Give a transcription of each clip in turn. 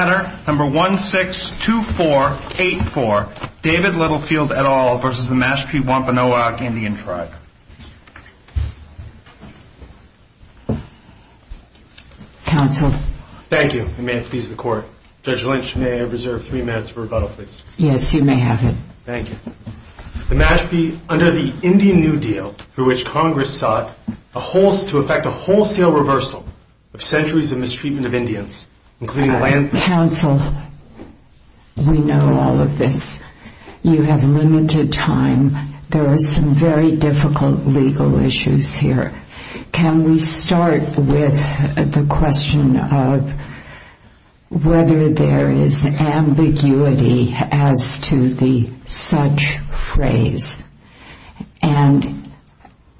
162484, David Littlefield et al. v. Mashpee Wampanoag Indian Tribe. Counsel. Thank you, and may it please the Court. Judge Lynch, may I reserve three minutes for rebuttal, please? Yes, you may have it. Thank you. The Mashpee, under the Indian New Deal, through which Congress sought to effect a wholesale reversal of centuries of mistreatment of Indians, Counsel, we know all of this. You have limited time. There are some very difficult legal issues here. Can we start with the question of whether there is ambiguity as to the such phrase? And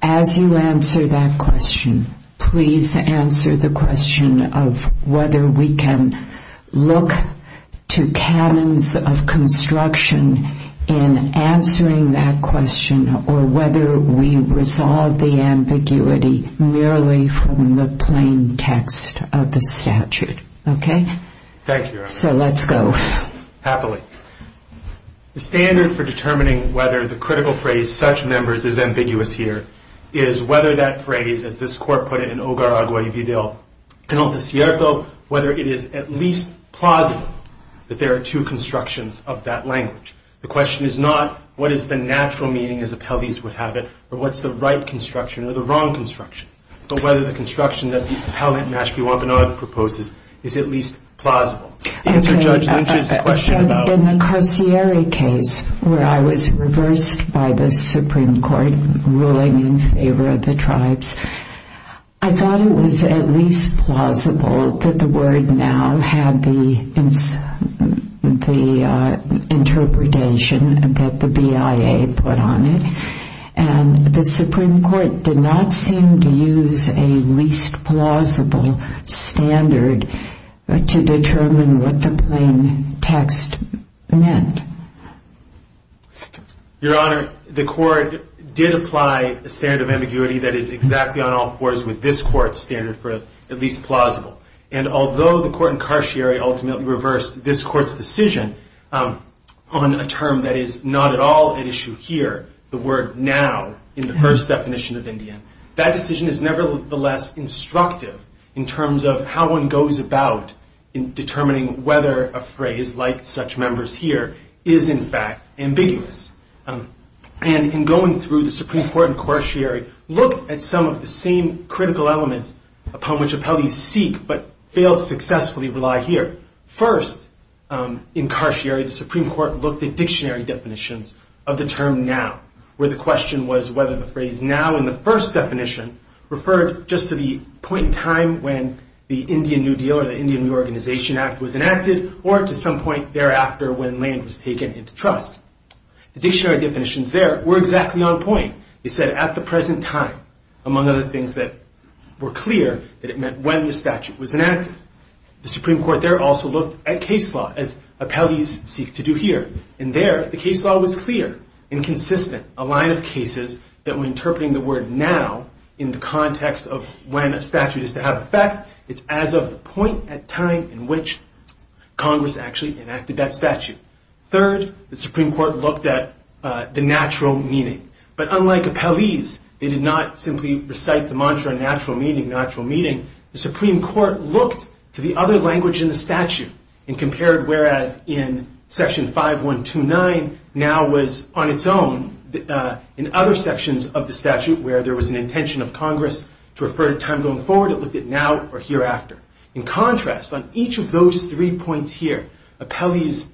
as you answer that question, please answer the question of whether we can look to canons of construction in answering that question or whether we resolve the ambiguity merely from the plain text of the statute. Okay? Thank you. So let's go. Happily. The standard for determining whether the critical phrase, such members, is ambiguous here is whether that phrase, as this Court put it in Ogaragua y Vidal Penalti Cierto, whether it is at least plausible that there are two constructions of that language. The question is not what is the natural meaning, as appellees would have it, or what's the right construction or the wrong construction, but whether the construction that the appellant Mashpee Wampanoag proposes is at least plausible. In the Carcieri case, where I was reversed by the Supreme Court ruling in favor of the tribes, I thought it was at least plausible that the word now had the interpretation that the BIA put on it. And the Supreme Court did not seem to use a least plausible standard to determine what the plain text meant. Your Honor, the Court did apply a standard of ambiguity that is exactly on all fours with this Court's standard for at least plausible. And although the Court in Carcieri ultimately reversed this Court's decision on a term that is not at all an issue here, the word now in the first definition of Indian, that decision is nevertheless instructive in terms of how one goes about in determining whether a phrase, like such members here, is in fact ambiguous. And in going through the Supreme Court in Carcieri, looked at some of the same critical elements upon which appellees seek, but fail to successfully rely here. First, in Carcieri, the Supreme Court looked at dictionary definitions of the term now, where the question was whether the phrase now in the first definition referred just to the point in time when the Indian New Deal or the Indian Reorganization Act was enacted, or to some point thereafter when land was taken into trust. The dictionary definitions there were exactly on point. They said at the present time, among other things that were clear, that it meant when the statute was enacted. The Supreme Court there also looked at case law, as appellees seek to do here. And there, the case law was clear and consistent, a line of cases that were interpreting the word now in the context of when a statute is to have effect. It's as of the point at time in which Congress actually enacted that statute. Third, the Supreme Court looked at the natural meaning. But unlike appellees, they did not simply recite the mantra natural meaning, natural meaning. The Supreme Court looked to the other language in the statute and compared whereas in section 5129, now was on its own. In other sections of the statute where there was an intention of Congress to refer to time going forward, it looked at now or hereafter. In contrast, on each of those three points here, appellees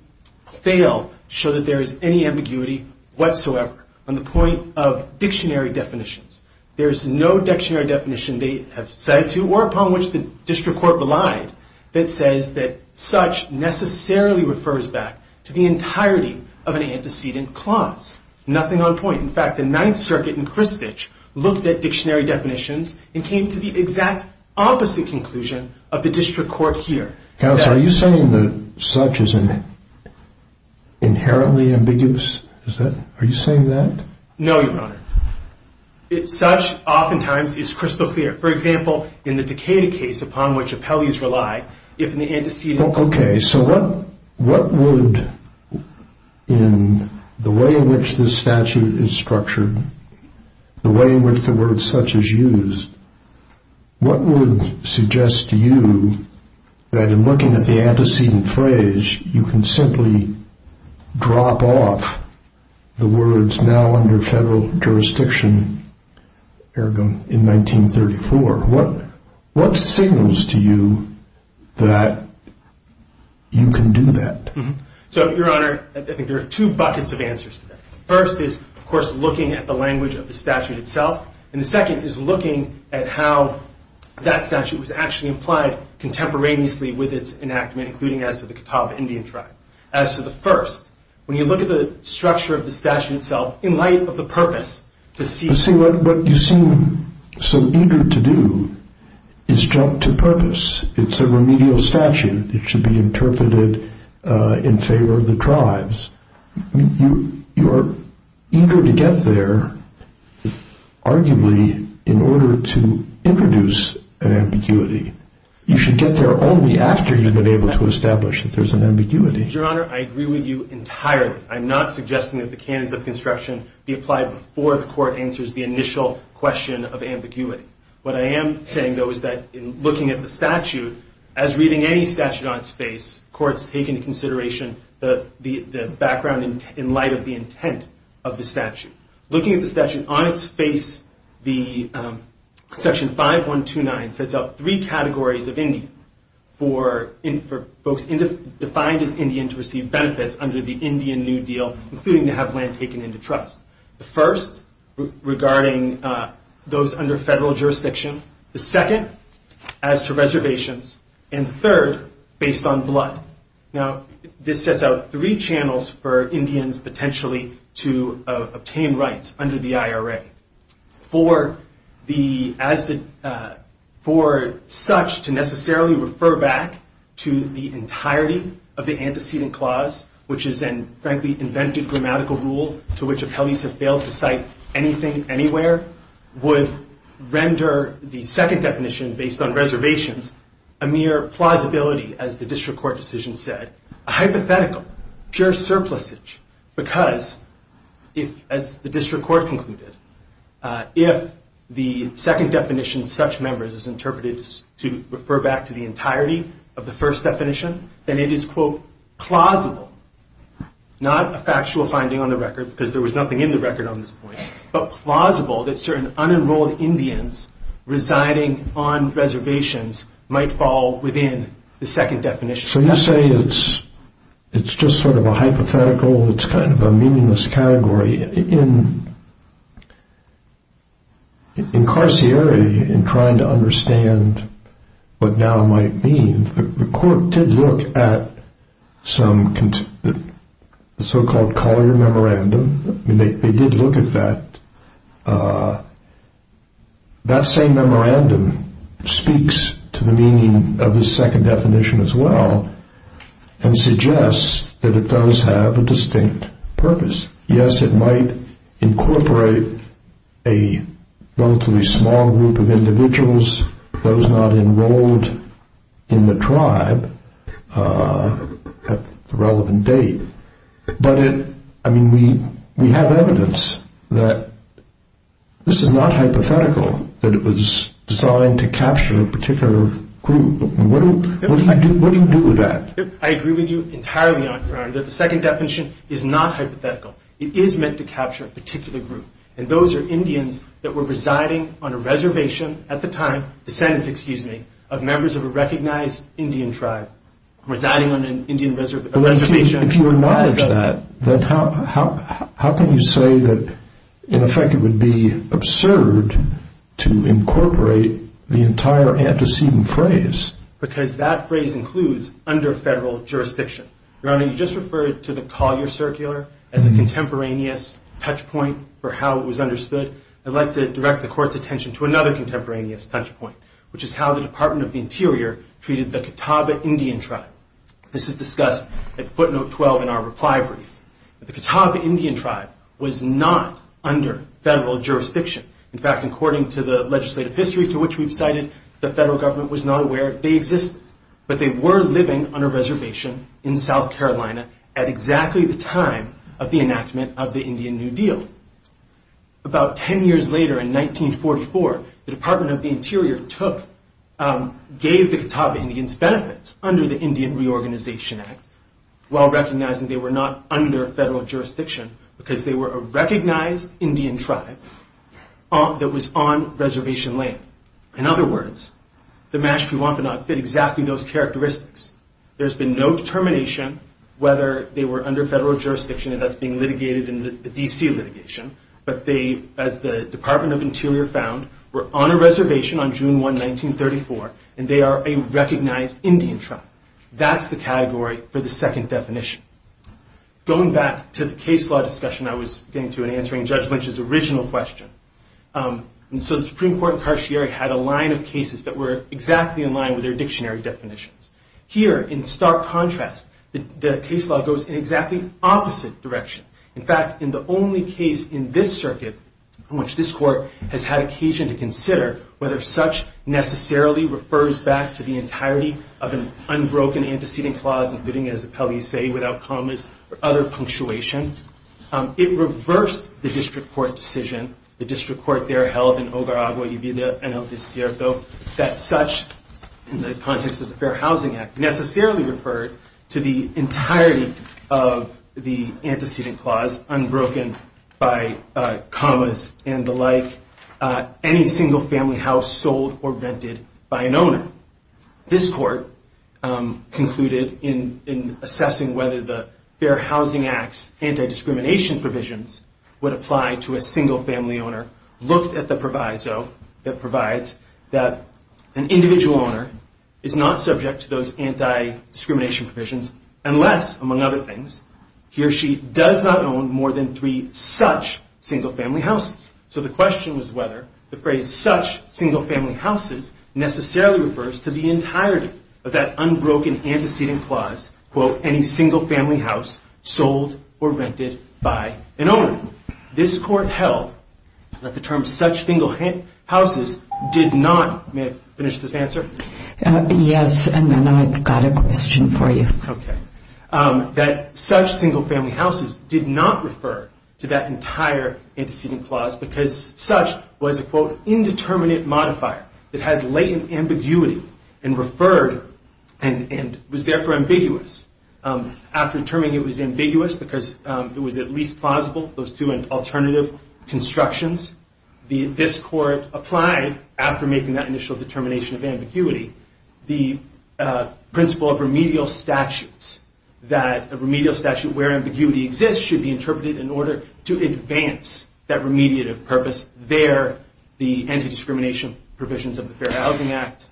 fail to show that there is any ambiguity whatsoever on the point of dictionary definitions. There is no dictionary definition they have said to or upon which the district court relied that says that such necessarily refers back to the entirety of an antecedent clause. Nothing on point. In fact, the Ninth Circuit in Christchurch looked at dictionary definitions and came to the exact opposite conclusion of the district court here. Counsel, are you saying that such is inherently ambiguous? Are you saying that? No, Your Honor. Such oftentimes is crystal clear. For example, in the Decatur case upon which appellees rely, if in the antecedent. Okay, so what would, in the way in which this statute is structured, the way in which the word such is used, what would suggest to you that in looking at the antecedent phrase, you can simply drop off the words now under federal jurisdiction in 1934? What signals to you that you can do that? So, Your Honor, I think there are two buckets of answers to that. First is, of course, looking at the language of the statute itself. And the second is looking at how that statute was actually applied contemporaneously with its enactment, including as to the Catawba Indian tribe. As to the first, when you look at the structure of the statute itself, in light of the purpose to see. But what you seem so eager to do is jump to purpose. It's a remedial statute. It should be interpreted in favor of the tribes. You are eager to get there, arguably, in order to introduce an ambiguity. You should get there only after you've been able to establish that there's an ambiguity. Your Honor, I agree with you entirely. I'm not suggesting that the canons of construction be applied before the court answers the initial question of ambiguity. What I am saying, though, is that in looking at the statute, as reading any statute on its face, courts take into consideration the background in light of the intent of the statute. Looking at the statute on its face, Section 5129 sets out three categories of Indian for folks defined as Indian to receive benefits under the Indian New Deal, including to have land taken into trust. The first, regarding those under federal jurisdiction. The second, as to reservations. And the third, based on blood. Now, this sets out three channels for Indians, potentially, to obtain rights under the IRA. For such to necessarily refer back to the entirety of the antecedent clause, which is then, frankly, invented grammatical rule to which appellees have failed to cite anything anywhere, would render the second definition, based on reservations, a mere plausibility, as the district court decision said, a hypothetical, pure surplusage. Because, as the district court concluded, if the second definition, such members, is interpreted to refer back to the entirety of the first definition, then it is, quote, plausible, not a factual finding on the record, because there was nothing in the record on this point, but plausible that certain unenrolled Indians residing on reservations might fall within the second definition. So you say it's just sort of a hypothetical, it's kind of a meaningless category. In Carcieri, in trying to understand what now might mean, the court did look at some so-called Collier Memorandum. They did look at that. That same memorandum speaks to the meaning of the second definition as well and suggests that it does have a distinct purpose. Yes, it might incorporate a relatively small group of individuals, those not enrolled in the tribe, at the relevant date. But, I mean, we have evidence that this is not hypothetical, that it was designed to capture a particular group. What do you do with that? I agree with you entirely, Your Honor, that the second definition is not hypothetical. It is meant to capture a particular group, and those are Indians that were residing on a reservation at the time, descendants, excuse me, of members of a recognized Indian tribe, residing on an Indian reservation. If you acknowledge that, then how can you say that, in effect, it would be absurd to incorporate the entire antecedent phrase? Because that phrase includes under federal jurisdiction. Your Honor, you just referred to the Collier Circular as a contemporaneous touchpoint for how it was understood. I'd like to direct the Court's attention to another contemporaneous touchpoint, which is how the Department of the Interior treated the Catawba Indian tribe. This is discussed at footnote 12 in our reply brief. The Catawba Indian tribe was not under federal jurisdiction. In fact, according to the legislative history to which we've cited, the federal government was not aware they existed. But they were living on a reservation in South Carolina at exactly the time of the enactment of the Indian New Deal. About 10 years later, in 1944, the Department of the Interior gave the Catawba Indians benefits under the Indian Reorganization Act while recognizing they were not under federal jurisdiction because they were a recognized Indian tribe that was on reservation land. In other words, the Mashpee Wampanoag fit exactly those characteristics. There's been no determination whether they were under federal jurisdiction, and that's being litigated in the D.C. litigation. But they, as the Department of the Interior found, were on a reservation on June 1, 1934, and they are a recognized Indian tribe. That's the category for the second definition. Going back to the case law discussion I was getting to in answering Judge Lynch's original question, and so the Supreme Court and Cartier had a line of cases that were exactly in line with their dictionary definitions. Here, in stark contrast, the case law goes in exactly opposite direction. In fact, in the only case in this circuit in which this court has had occasion to consider whether such necessarily refers back to the entirety of an unbroken antecedent clause, including, as appellees say, without commas or other punctuation, it reversed the district court decision, the district court there held in Ogaragua y Vida en el Desierto, that such, in the context of the Fair Housing Act, necessarily referred to the entirety of the antecedent clause, unbroken by commas and the like, any single family house sold or vented by an owner. This court concluded in assessing whether the Fair Housing Act's anti-discrimination provisions would apply to a single family owner, looked at the proviso that provides that an individual owner is not subject to those anti-discrimination provisions unless, among other things, he or she does not own more than three such single family houses. So the question was whether the phrase such single family houses necessarily refers to the entirety of that unbroken antecedent clause, quote, any single family house sold or vented by an owner. This court held that the term such single houses did not, may I finish this answer? Yes, and then I've got a question for you. That such single family houses did not refer to that entire antecedent clause because such was a, quote, indeterminate modifier that had latent ambiguity and referred and was therefore ambiguous. After determining it was ambiguous because it was at least plausible, those two alternative constructions, this court applied, after making that initial determination of ambiguity, the principle of remedial statutes, that a remedial statute where ambiguity exists should be interpreted in order to advance that remediative purpose. There, the anti-discrimination provisions of the Fair Housing Act,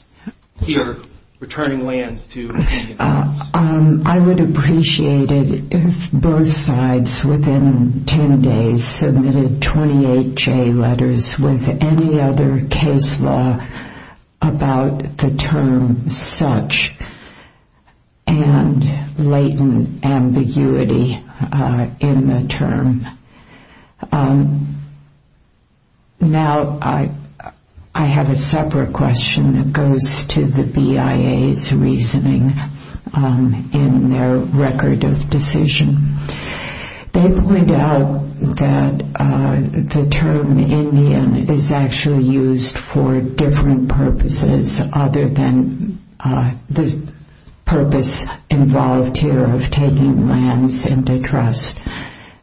here, returning lands to immediate owners. I would appreciate it if both sides within 10 days submitted 28 J letters with any other case law about the term such and latent ambiguity in the term. Now, I have a separate question that goes to the BIA's reasoning in their record of decision. They point out that the term Indian is actually used for different purposes other than the purpose involved here of taking lands into trust.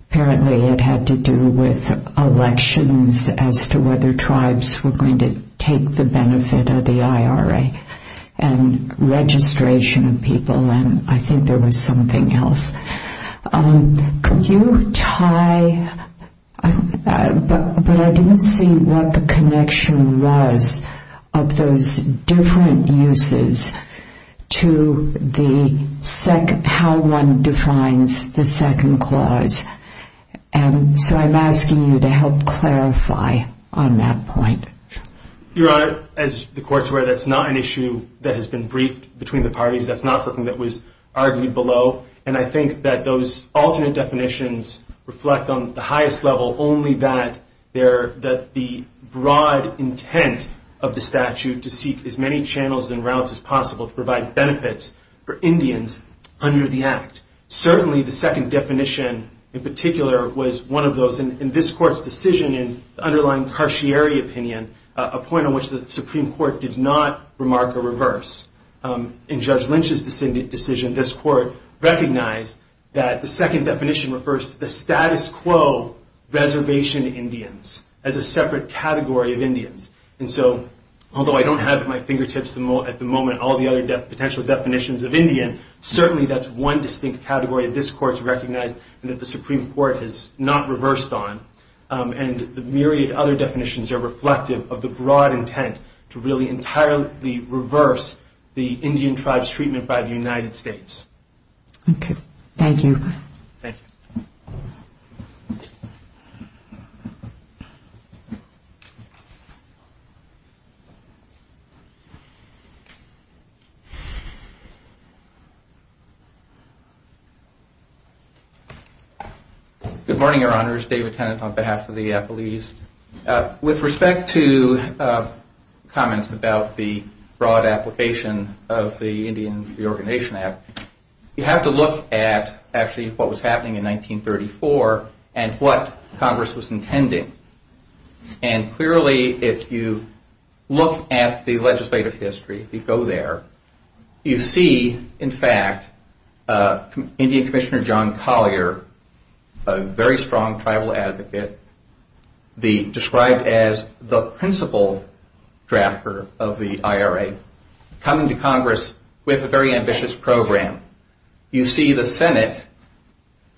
Apparently it had to do with elections as to whether tribes were going to take the benefit of the IRA and registration of people and I think there was something else. Could you tie, but I didn't see what the connection was of those different uses to the second, how one defines the second clause. And so I'm asking you to help clarify on that point. Your Honor, as the court's aware, that's not an issue that has been briefed between the parties. That's not something that was argued below and I think that those alternate definitions reflect on the highest level only that the broad intent of the statute to seek as many channels and routes as possible to provide benefits for Indians under the Act. Certainly the second definition in particular was one of those, and this court's decision in the underlying Cartier opinion, a point on which the Supreme Court did not remark a reverse. In Judge Lynch's decision, this court recognized that the second definition refers to the status quo reservation Indians as a separate category of Indians. And so, although I don't have at my fingertips at the moment all the other potential definitions of Indian, certainly that's one distinct category that this court's recognized and that the Supreme Court has not reversed on. And the myriad other definitions are reflective of the broad intent to really entirely reverse the Indian tribe's treatment by the United States. Okay. Thank you. Thank you. Good morning, Your Honors. David Tennant on behalf of the Appellees. With respect to comments about the broad application of the Indian Reorganization Act, you have to look at actually what was happening in 1934 and what Congress was intending. And clearly, if you look at the legislative history, if you go there, you see, in fact, Indian Commissioner John Collier, a very strong tribal advocate, described as the principal drafter of the IRA, coming to Congress with a very ambitious program. You see the Senate,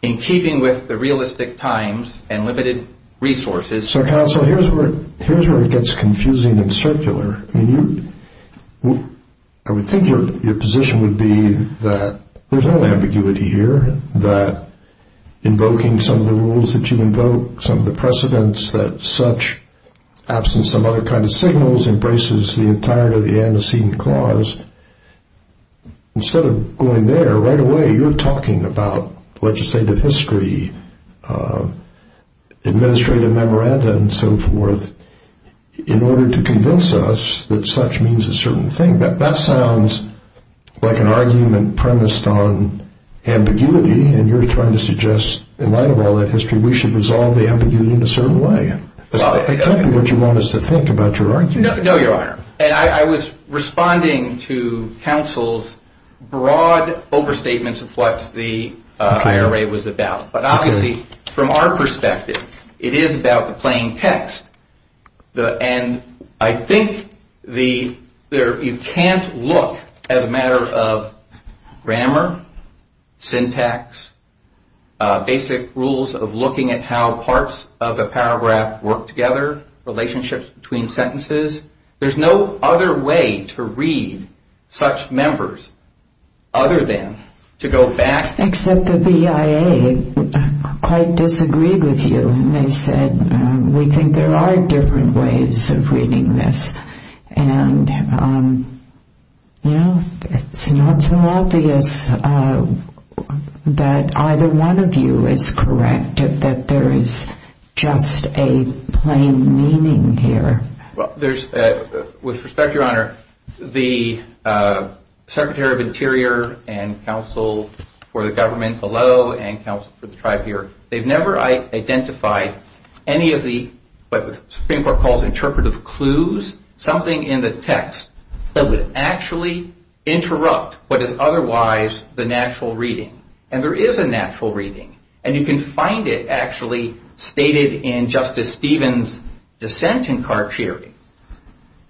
in keeping with the realistic times and limited resources. So, Counsel, here's where it gets confusing and circular. I mean, I would think your position would be that there's no ambiguity here, that invoking some of the rules that you invoke, some of the precedents that such absence of other kind of signals embraces the entirety of the antecedent clause. Instead of going there, right away, you're talking about legislative history, administrative memoranda and so forth, in order to convince us that such means a certain thing. That sounds like an argument premised on ambiguity, and you're trying to suggest, in light of all that history, we should resolve the ambiguity in a certain way. Tell me what you want us to think about your argument. No, Your Honor. And I was responding to Counsel's broad overstatements of what the IRA was about. But obviously, from our perspective, it is about the plain text. And I think you can't look at a matter of grammar, syntax, basic rules of looking at how parts of a paragraph work together, relationships between sentences. There's no other way to read such members other than to go back. Except the BIA quite disagreed with you, and they said, we think there are different ways of reading this. And it's not so obvious that either one of you is correct, that there is just a plain meaning here. With respect, Your Honor, the Secretary of Interior and Counsel for the government below, and Counsel for the tribe here, they've never identified any of the, what the Supreme Court calls interpretive clues, something in the text that would actually interrupt what is otherwise the natural reading. And there is a natural reading, and you can find it actually stated in Justice Stevens' dissent in Cartier.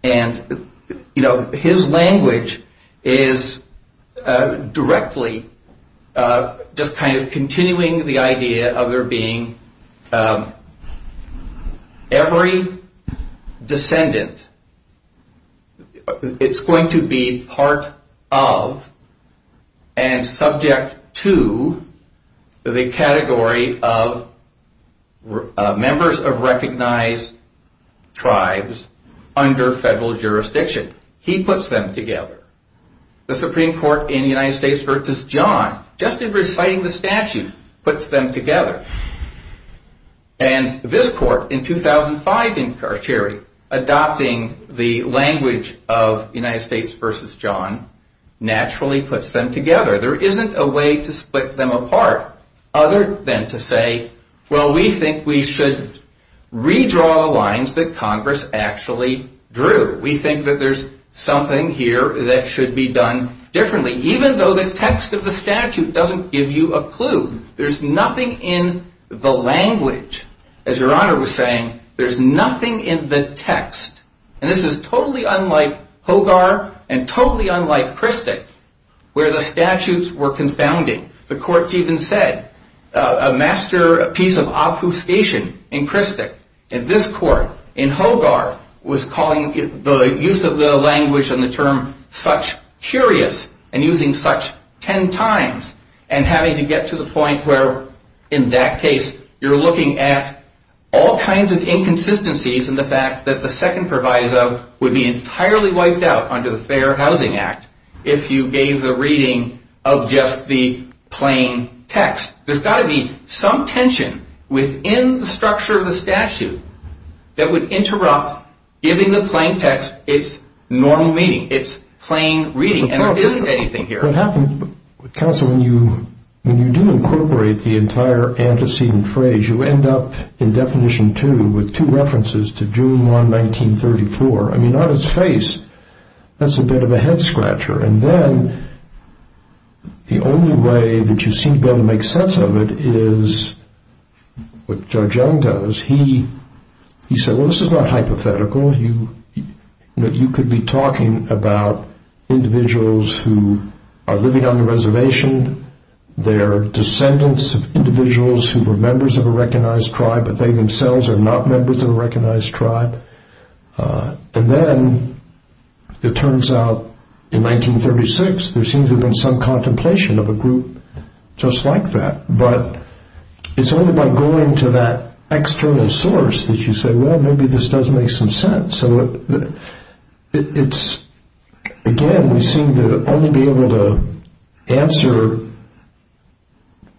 And, you know, his language is directly just kind of continuing the idea of there being every descendant, it's going to be part of and subject to the category of members of recognized tribes under federal jurisdiction. He puts them together. The Supreme Court in the United States v. John, just in reciting the statute, puts them together. And this court in 2005 in Cartier, adopting the language of United States v. John, naturally puts them together. There isn't a way to split them apart other than to say, well, we think we should redraw the lines that Congress actually drew. We think that there's something here that should be done differently, even though the text of the statute doesn't give you a clue. There's nothing in the language, as Your Honor was saying, there's nothing in the text, and this is totally unlike Hogar and totally unlike Christick, where the statutes were confounding. The courts even said a masterpiece of obfuscation in Christick, in this court, in Hogar, was calling the use of the language and the term such curious and using such ten times and having to get to the point where, in that case, you're looking at all kinds of inconsistencies in the fact that the second proviso would be entirely wiped out under the Fair Housing Act if you gave the reading of just the plain text. There's got to be some tension within the structure of the statute that would interrupt giving the plain text its normal meaning, its plain reading, and there isn't anything here. What happens, counsel, when you do incorporate the entire antecedent phrase, you end up in definition two with two references to June 1, 1934. I mean, on its face, that's a bit of a head-scratcher, and then the only way that you seem to be able to make sense of it is what Judge Young does. He said, well, this is not hypothetical. You could be talking about individuals who are living on the reservation. They are descendants of individuals who were members of a recognized tribe, but they themselves are not members of a recognized tribe. And then it turns out, in 1936, there seems to have been some contemplation of a group just like that, but it's only by going to that external source that you say, well, maybe this does make some sense. So it's, again, we seem to only be able to answer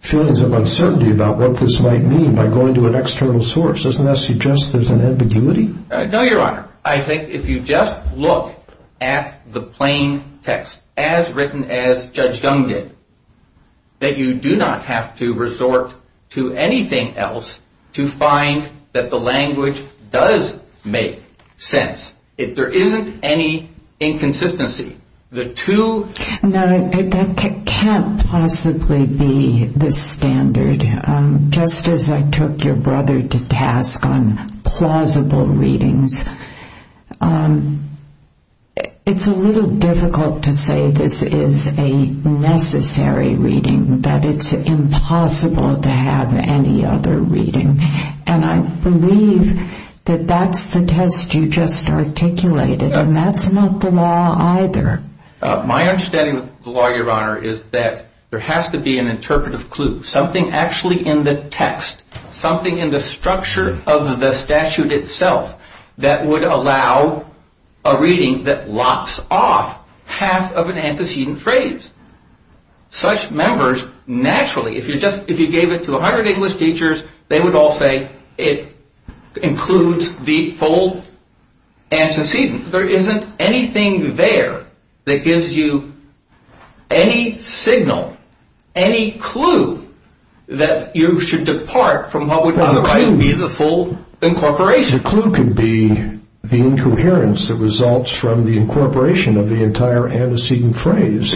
feelings of uncertainty about what this might mean by going to an external source. Doesn't that suggest there's an ambiguity? No, Your Honor. I think if you just look at the plain text, as written as Judge Young did, that you do not have to resort to anything else to find that the language does make sense. There isn't any inconsistency. No, that can't possibly be the standard. Just as I took your brother to task on plausible readings, it's a little difficult to say this is a necessary reading, that it's impossible to have any other reading. And I believe that that's the test you just articulated, and that's not the law either. My understanding of the law, Your Honor, is that there has to be an interpretive clue, something actually in the text, something in the structure of the statute itself, that would allow a reading that locks off half of an antecedent phrase. Such members naturally, if you gave it to a hundred English teachers, they would all say it includes the full antecedent. There isn't anything there that gives you any signal, any clue, that you should depart from what would otherwise be the full incorporation. The clue can be the incoherence that results from the incorporation of the entire antecedent phrase.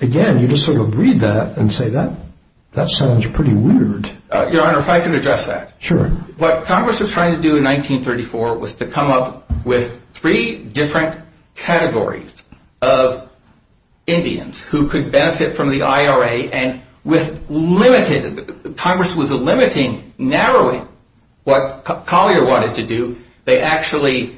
Again, you just sort of read that and say, that sounds pretty weird. Your Honor, if I could address that. Sure. What Congress was trying to do in 1934 was to come up with three different categories of Indians who could benefit from the IRA, and Congress was limiting, narrowing what Collier wanted to do. They actually,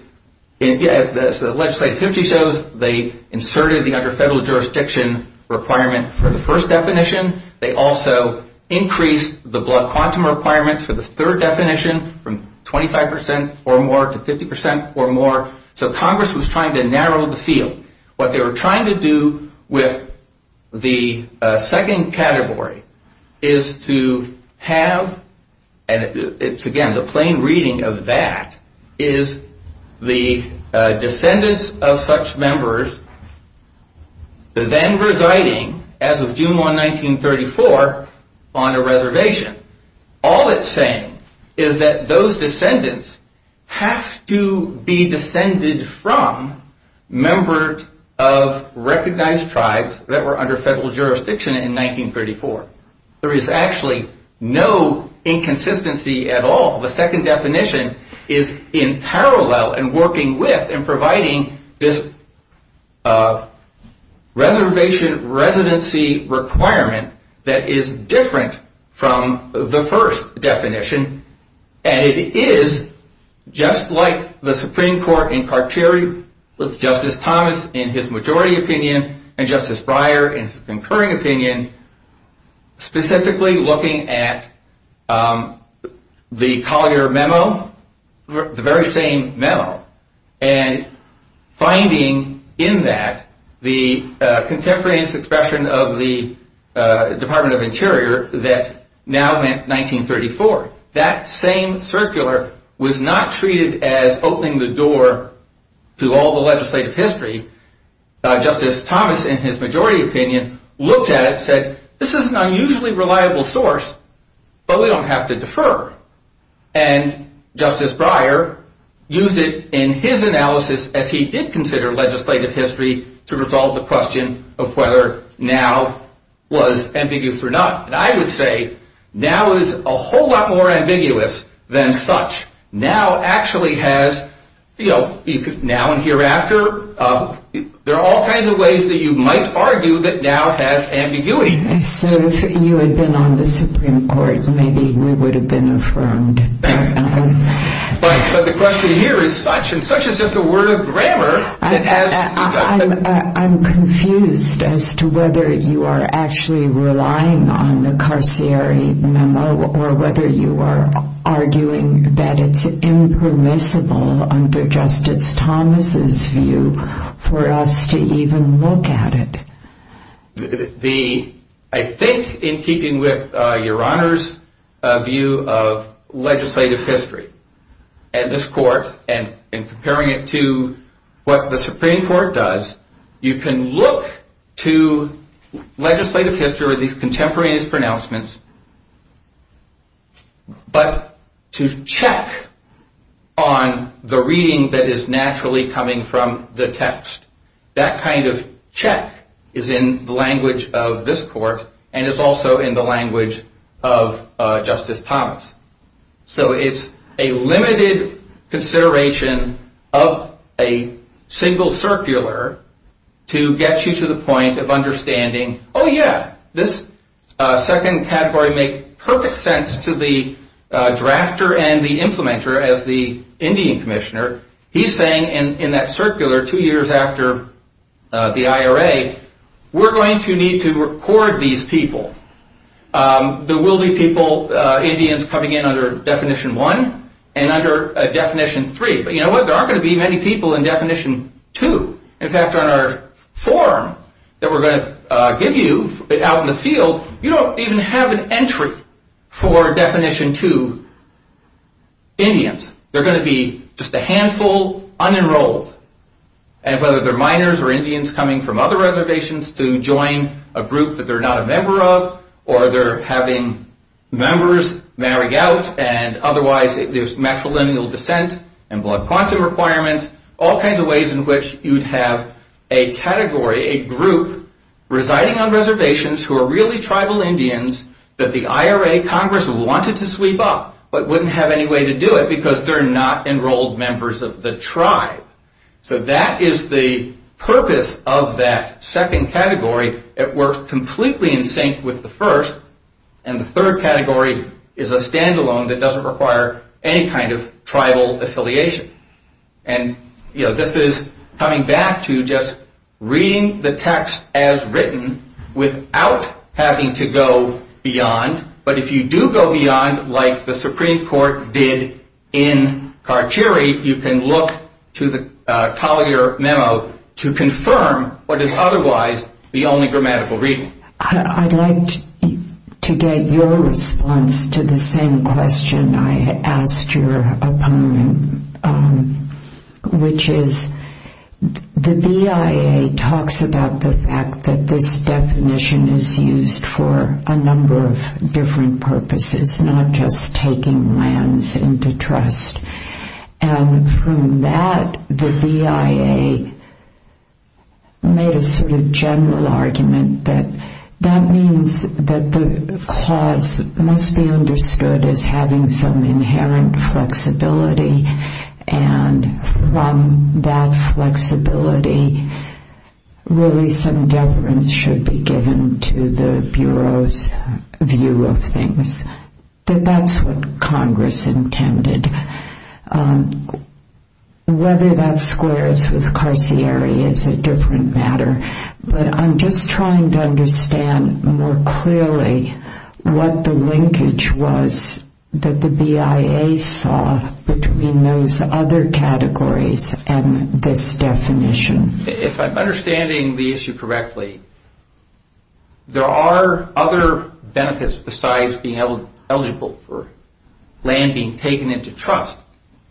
as the legislative history shows, they inserted the under federal jurisdiction requirement for the first definition. They also increased the blood quantum requirement for the third definition from 25% or more to 50% or more. So Congress was trying to narrow the field. What they were trying to do with the second category is to have, and again, the plain reading of that is the descendants of such members then residing, as of June 1, 1934, on a reservation. All it's saying is that those descendants have to be descended from members of recognized tribes that were under federal jurisdiction in 1934. There is actually no inconsistency at all. The second definition is in parallel and working with and providing this reservation residency requirement that is different from the first definition, and it is just like the Supreme Court in Carcheri with Justice Thomas in his majority opinion and Justice Breyer in his concurring opinion, specifically looking at the Collier memo, the very same memo, and finding in that the contemporary expression of the Department of Interior that now meant 1934. That same circular was not treated as opening the door to all the legislative history. Justice Thomas in his majority opinion looked at it and said, this is an unusually reliable source, but we don't have to defer. And Justice Breyer used it in his analysis as he did consider legislative history to resolve the question of whether now was ambiguous or not. And I would say now is a whole lot more ambiguous than such. Now actually has, you know, now and hereafter, there are all kinds of ways that you might argue that now has ambiguity. So if you had been on the Supreme Court, maybe we would have been affirmed. But the question here is such, and such is just a word of grammar. I'm confused as to whether you are actually relying on the Carcheri memo or whether you are arguing that it's impermissible under Justice Thomas' view for us to even look at it. I think in keeping with Your Honor's view of legislative history and this court and comparing it to what the Supreme Court does, you can look to legislative history, these contemporaneous pronouncements, but to check on the reading that is naturally coming from the text. That kind of check is in the language of this court and is also in the language of Justice Thomas. So it's a limited consideration of a single circular to get you to the point of understanding, oh yeah, this second category makes perfect sense to the drafter and the implementer as the Indian Commissioner. He's saying in that circular two years after the IRA, we're going to need to record these people. There will be people, Indians, coming in under Definition 1 and under Definition 3. But you know what? There aren't going to be many people in Definition 2. In fact, on our form that we're going to give you out in the field, you don't even have an entry for Definition 2 Indians. There are going to be just a handful unenrolled. And whether they're minors or Indians coming from other reservations to join a group that they're not a member of, or they're having members marry out and otherwise there's matrilineal descent and blood quantum requirements, all kinds of ways in which you'd have a category, a group, residing on reservations who are really tribal Indians that the IRA Congress wanted to sweep up but wouldn't have any way to do it because they're not enrolled members of the tribe. So that is the purpose of that second category. It works completely in sync with the first. And the third category is a standalone that doesn't require any kind of tribal affiliation. And this is coming back to just reading the text as written without having to go beyond. But if you do go beyond, like the Supreme Court did in Carcheri, you can look to the Collier Memo to confirm what is otherwise the only grammatical reading. I'd like to get your response to the same question I asked your opponent, which is the BIA talks about the fact that this definition is used for a number of different purposes, not just taking lands into trust. And from that, the BIA made a sort of general argument that that means that the clause must be understood as having some inherent flexibility. And from that flexibility, really some deference should be given to the Bureau's view of things, that that's what Congress intended. Whether that squares with Carcheri is a different matter. But I'm just trying to understand more clearly what the linkage was that the BIA saw between those other categories and this definition. If I'm understanding the issue correctly, there are other benefits besides being eligible for land being taken into trust.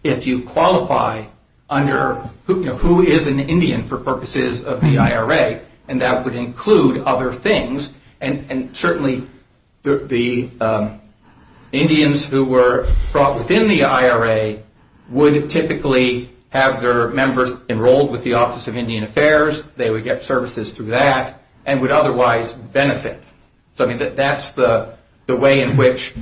If you qualify under who is an Indian for purposes of the IRA, and that would include other things. And certainly the Indians who were brought within the IRA would typically have their members enrolled with the Office of Indian Affairs. They would get services through that and would otherwise benefit. So that's the way in which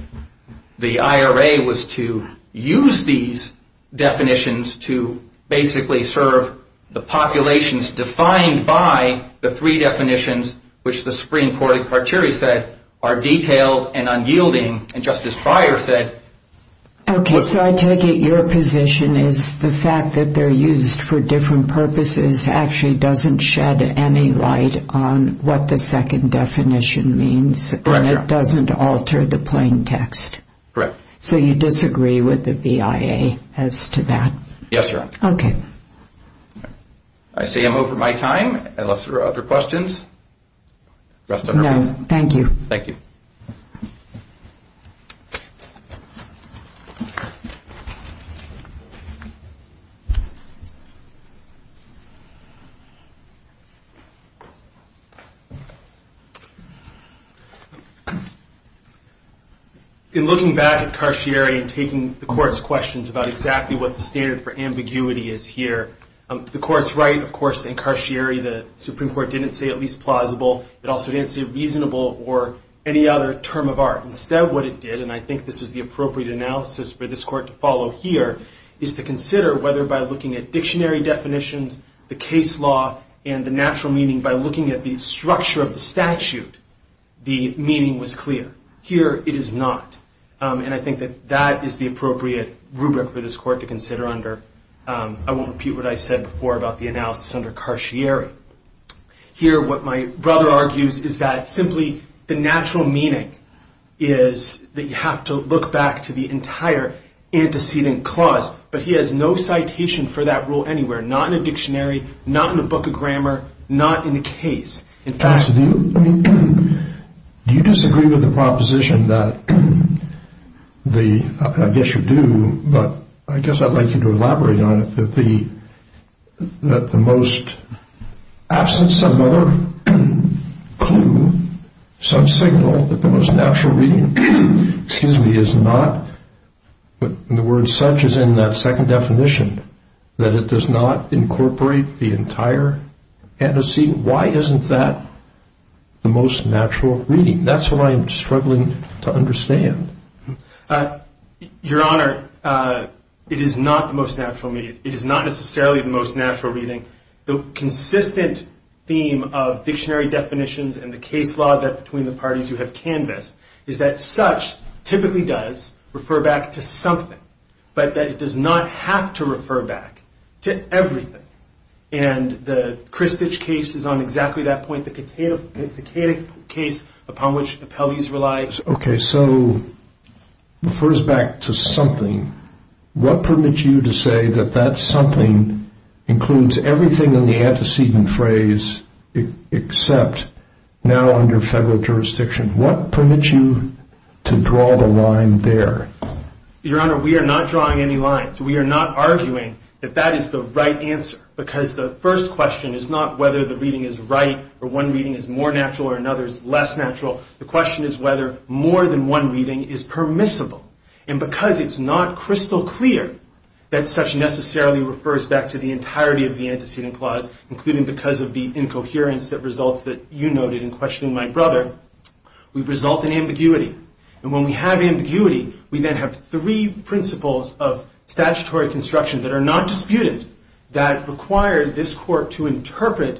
the IRA was to use these definitions to basically serve the populations defined by the three definitions, which the Supreme Court at Carcheri said are detailed and unyielding. And Justice Breyer said... Okay, so I take it your position is the fact that they're used for different purposes actually doesn't shed any light on what the second definition means. Correct. And it doesn't alter the plain text. Correct. So you disagree with the BIA as to that? Yes, Your Honor. Okay. I say I'm over my time unless there are other questions. No, thank you. Thank you. In looking back at Carcheri and taking the Court's questions about exactly what the standard for ambiguity is here, the Court's right, of course, in Carcheri, the Supreme Court didn't say at least plausible. It also didn't say reasonable or any other term of art. Instead what it did, and I think this is the appropriate analysis for this Court to follow here, is to consider whether by looking at dictionary definitions, the case law, and the natural meaning, by looking at the structure of the statute, the meaning was clear. Here it is not. And I think that that is the appropriate rubric for this Court to consider under. I won't repeat what I said before about the analysis under Carcheri. Here what my brother argues is that simply the natural meaning is that you have to look back to the entire antecedent clause, but he has no citation for that rule anywhere, not in a dictionary, not in a book of grammar, not in the case. Absolutely. Do you disagree with the proposition that the, I guess you do, but I guess I'd like you to elaborate on it, that the most absent some other clue, some signal, that the most natural meaning, excuse me, is not, and the word such is in that second definition, that it does not incorporate the entire antecedent. Why isn't that the most natural meaning? That's what I am struggling to understand. Your Honor, it is not the most natural meaning. It is not necessarily the most natural meaning. The consistent theme of dictionary definitions and the case law between the parties you have canvassed is that such typically does refer back to something, but that it does not have to refer back to everything, and the Kristich case is on exactly that point, the Katik case upon which appellees rely. Okay, so refers back to something. What permits you to say that that something includes everything in the antecedent phrase except now under federal jurisdiction? What permits you to draw the line there? Your Honor, we are not drawing any lines. We are not arguing that that is the right answer, because the first question is not whether the reading is right or one reading is more natural or another is less natural. The question is whether more than one reading is permissible, and because it's not crystal clear that such necessarily refers back to the entirety of the antecedent clause, including because of the incoherence that results that you noted in questioning my brother, we result in ambiguity, and when we have ambiguity, we then have three principles of statutory construction that are not disputed that require this court to interpret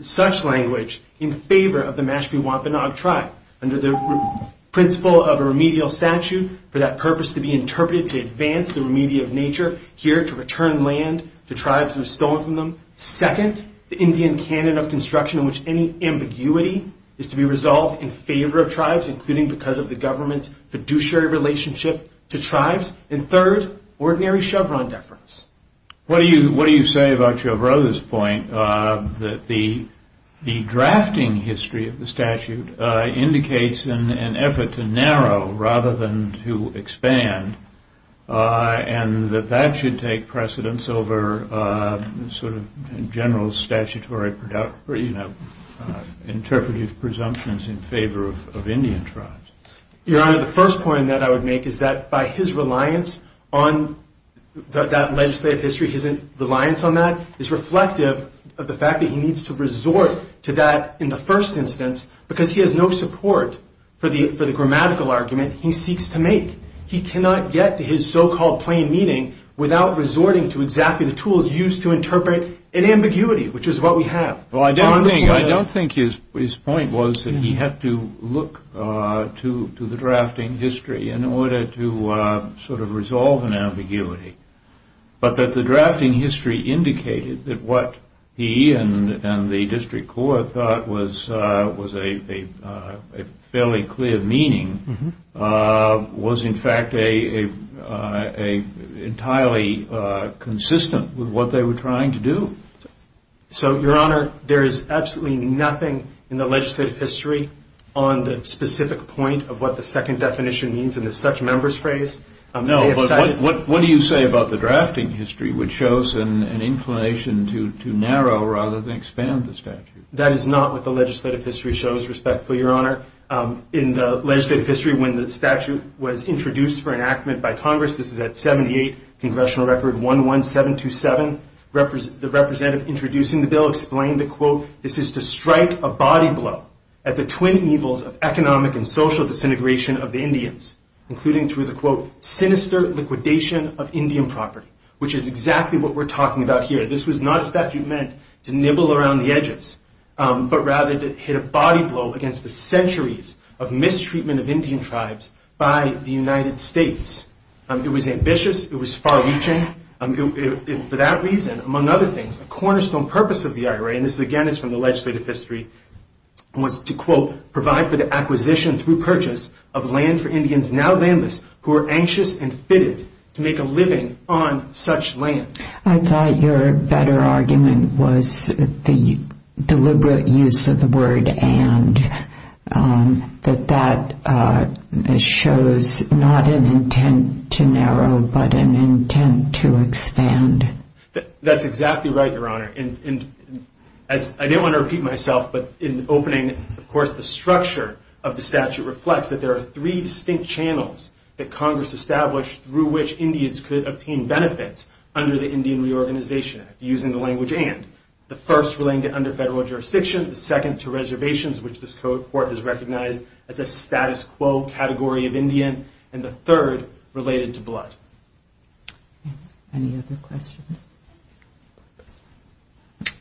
such language in favor of the Mashpee Wampanoag tribe under the principle of a remedial statute for that purpose to be interpreted to advance the remedial nature here to return land to tribes who have stolen from them. Second, the Indian canon of construction in which any ambiguity is to be resolved in favor of tribes, including because of the government's fiduciary relationship to tribes. And third, ordinary Chevron deference. What do you say about your brother's point that the drafting history of the statute indicates an effort to narrow rather than to expand, and that that should take precedence over sort of general statutory interpretive presumptions in favor of Indian tribes? Your Honor, the first point that I would make is that by his reliance on that legislative history, his reliance on that is reflective of the fact that he needs to resort to that in the first instance because he has no support for the grammatical argument he seeks to make. He cannot get to his so-called plain meaning without resorting to exactly the tools used to interpret an ambiguity, which is what we have. Well, I don't think his point was that he had to look to the drafting history in order to sort of resolve an ambiguity, but that the drafting history indicated that what he and the district court thought was a fairly clear meaning was in fact entirely consistent with what they were trying to do. So, Your Honor, there is absolutely nothing in the legislative history on the specific point of what the second definition means in the such-members phrase. No, but what do you say about the drafting history, which shows an inclination to narrow rather than expand the statute? Your Honor, in the legislative history, when the statute was introduced for enactment by Congress, this is at 78, Congressional Record 11727, the representative introducing the bill explained that, quote, this is to strike a body blow at the twin evils of economic and social disintegration of the Indians, including through the, quote, sinister liquidation of Indian property, which is exactly what we're talking about here. This was not a statute meant to nibble around the edges, but rather to hit a body blow against the centuries of mistreatment of Indian tribes by the United States. It was ambitious. It was far-reaching. For that reason, among other things, a cornerstone purpose of the IRA, and this, again, is from the legislative history, was to, quote, provide for the acquisition through purchase of land for Indians, now landless, who are anxious and fitted to make a living on such land. I thought your better argument was the deliberate use of the word and, that that shows not an intent to narrow, but an intent to expand. That's exactly right, Your Honor. And I didn't want to repeat myself, but in opening, of course, the structure of the statute reflects that there are three distinct channels that Congress established through which Indians could obtain benefits under the Indian Reorganization Act, using the language and. The first relating to under federal jurisdiction, the second to reservations, which this court has recognized as a status quo category of Indian, and the third related to blood. Any other questions?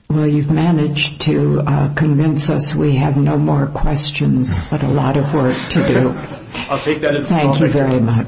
Well, you've managed to convince us we have no more questions, but a lot of work to do. Thank you very much. Thank you all.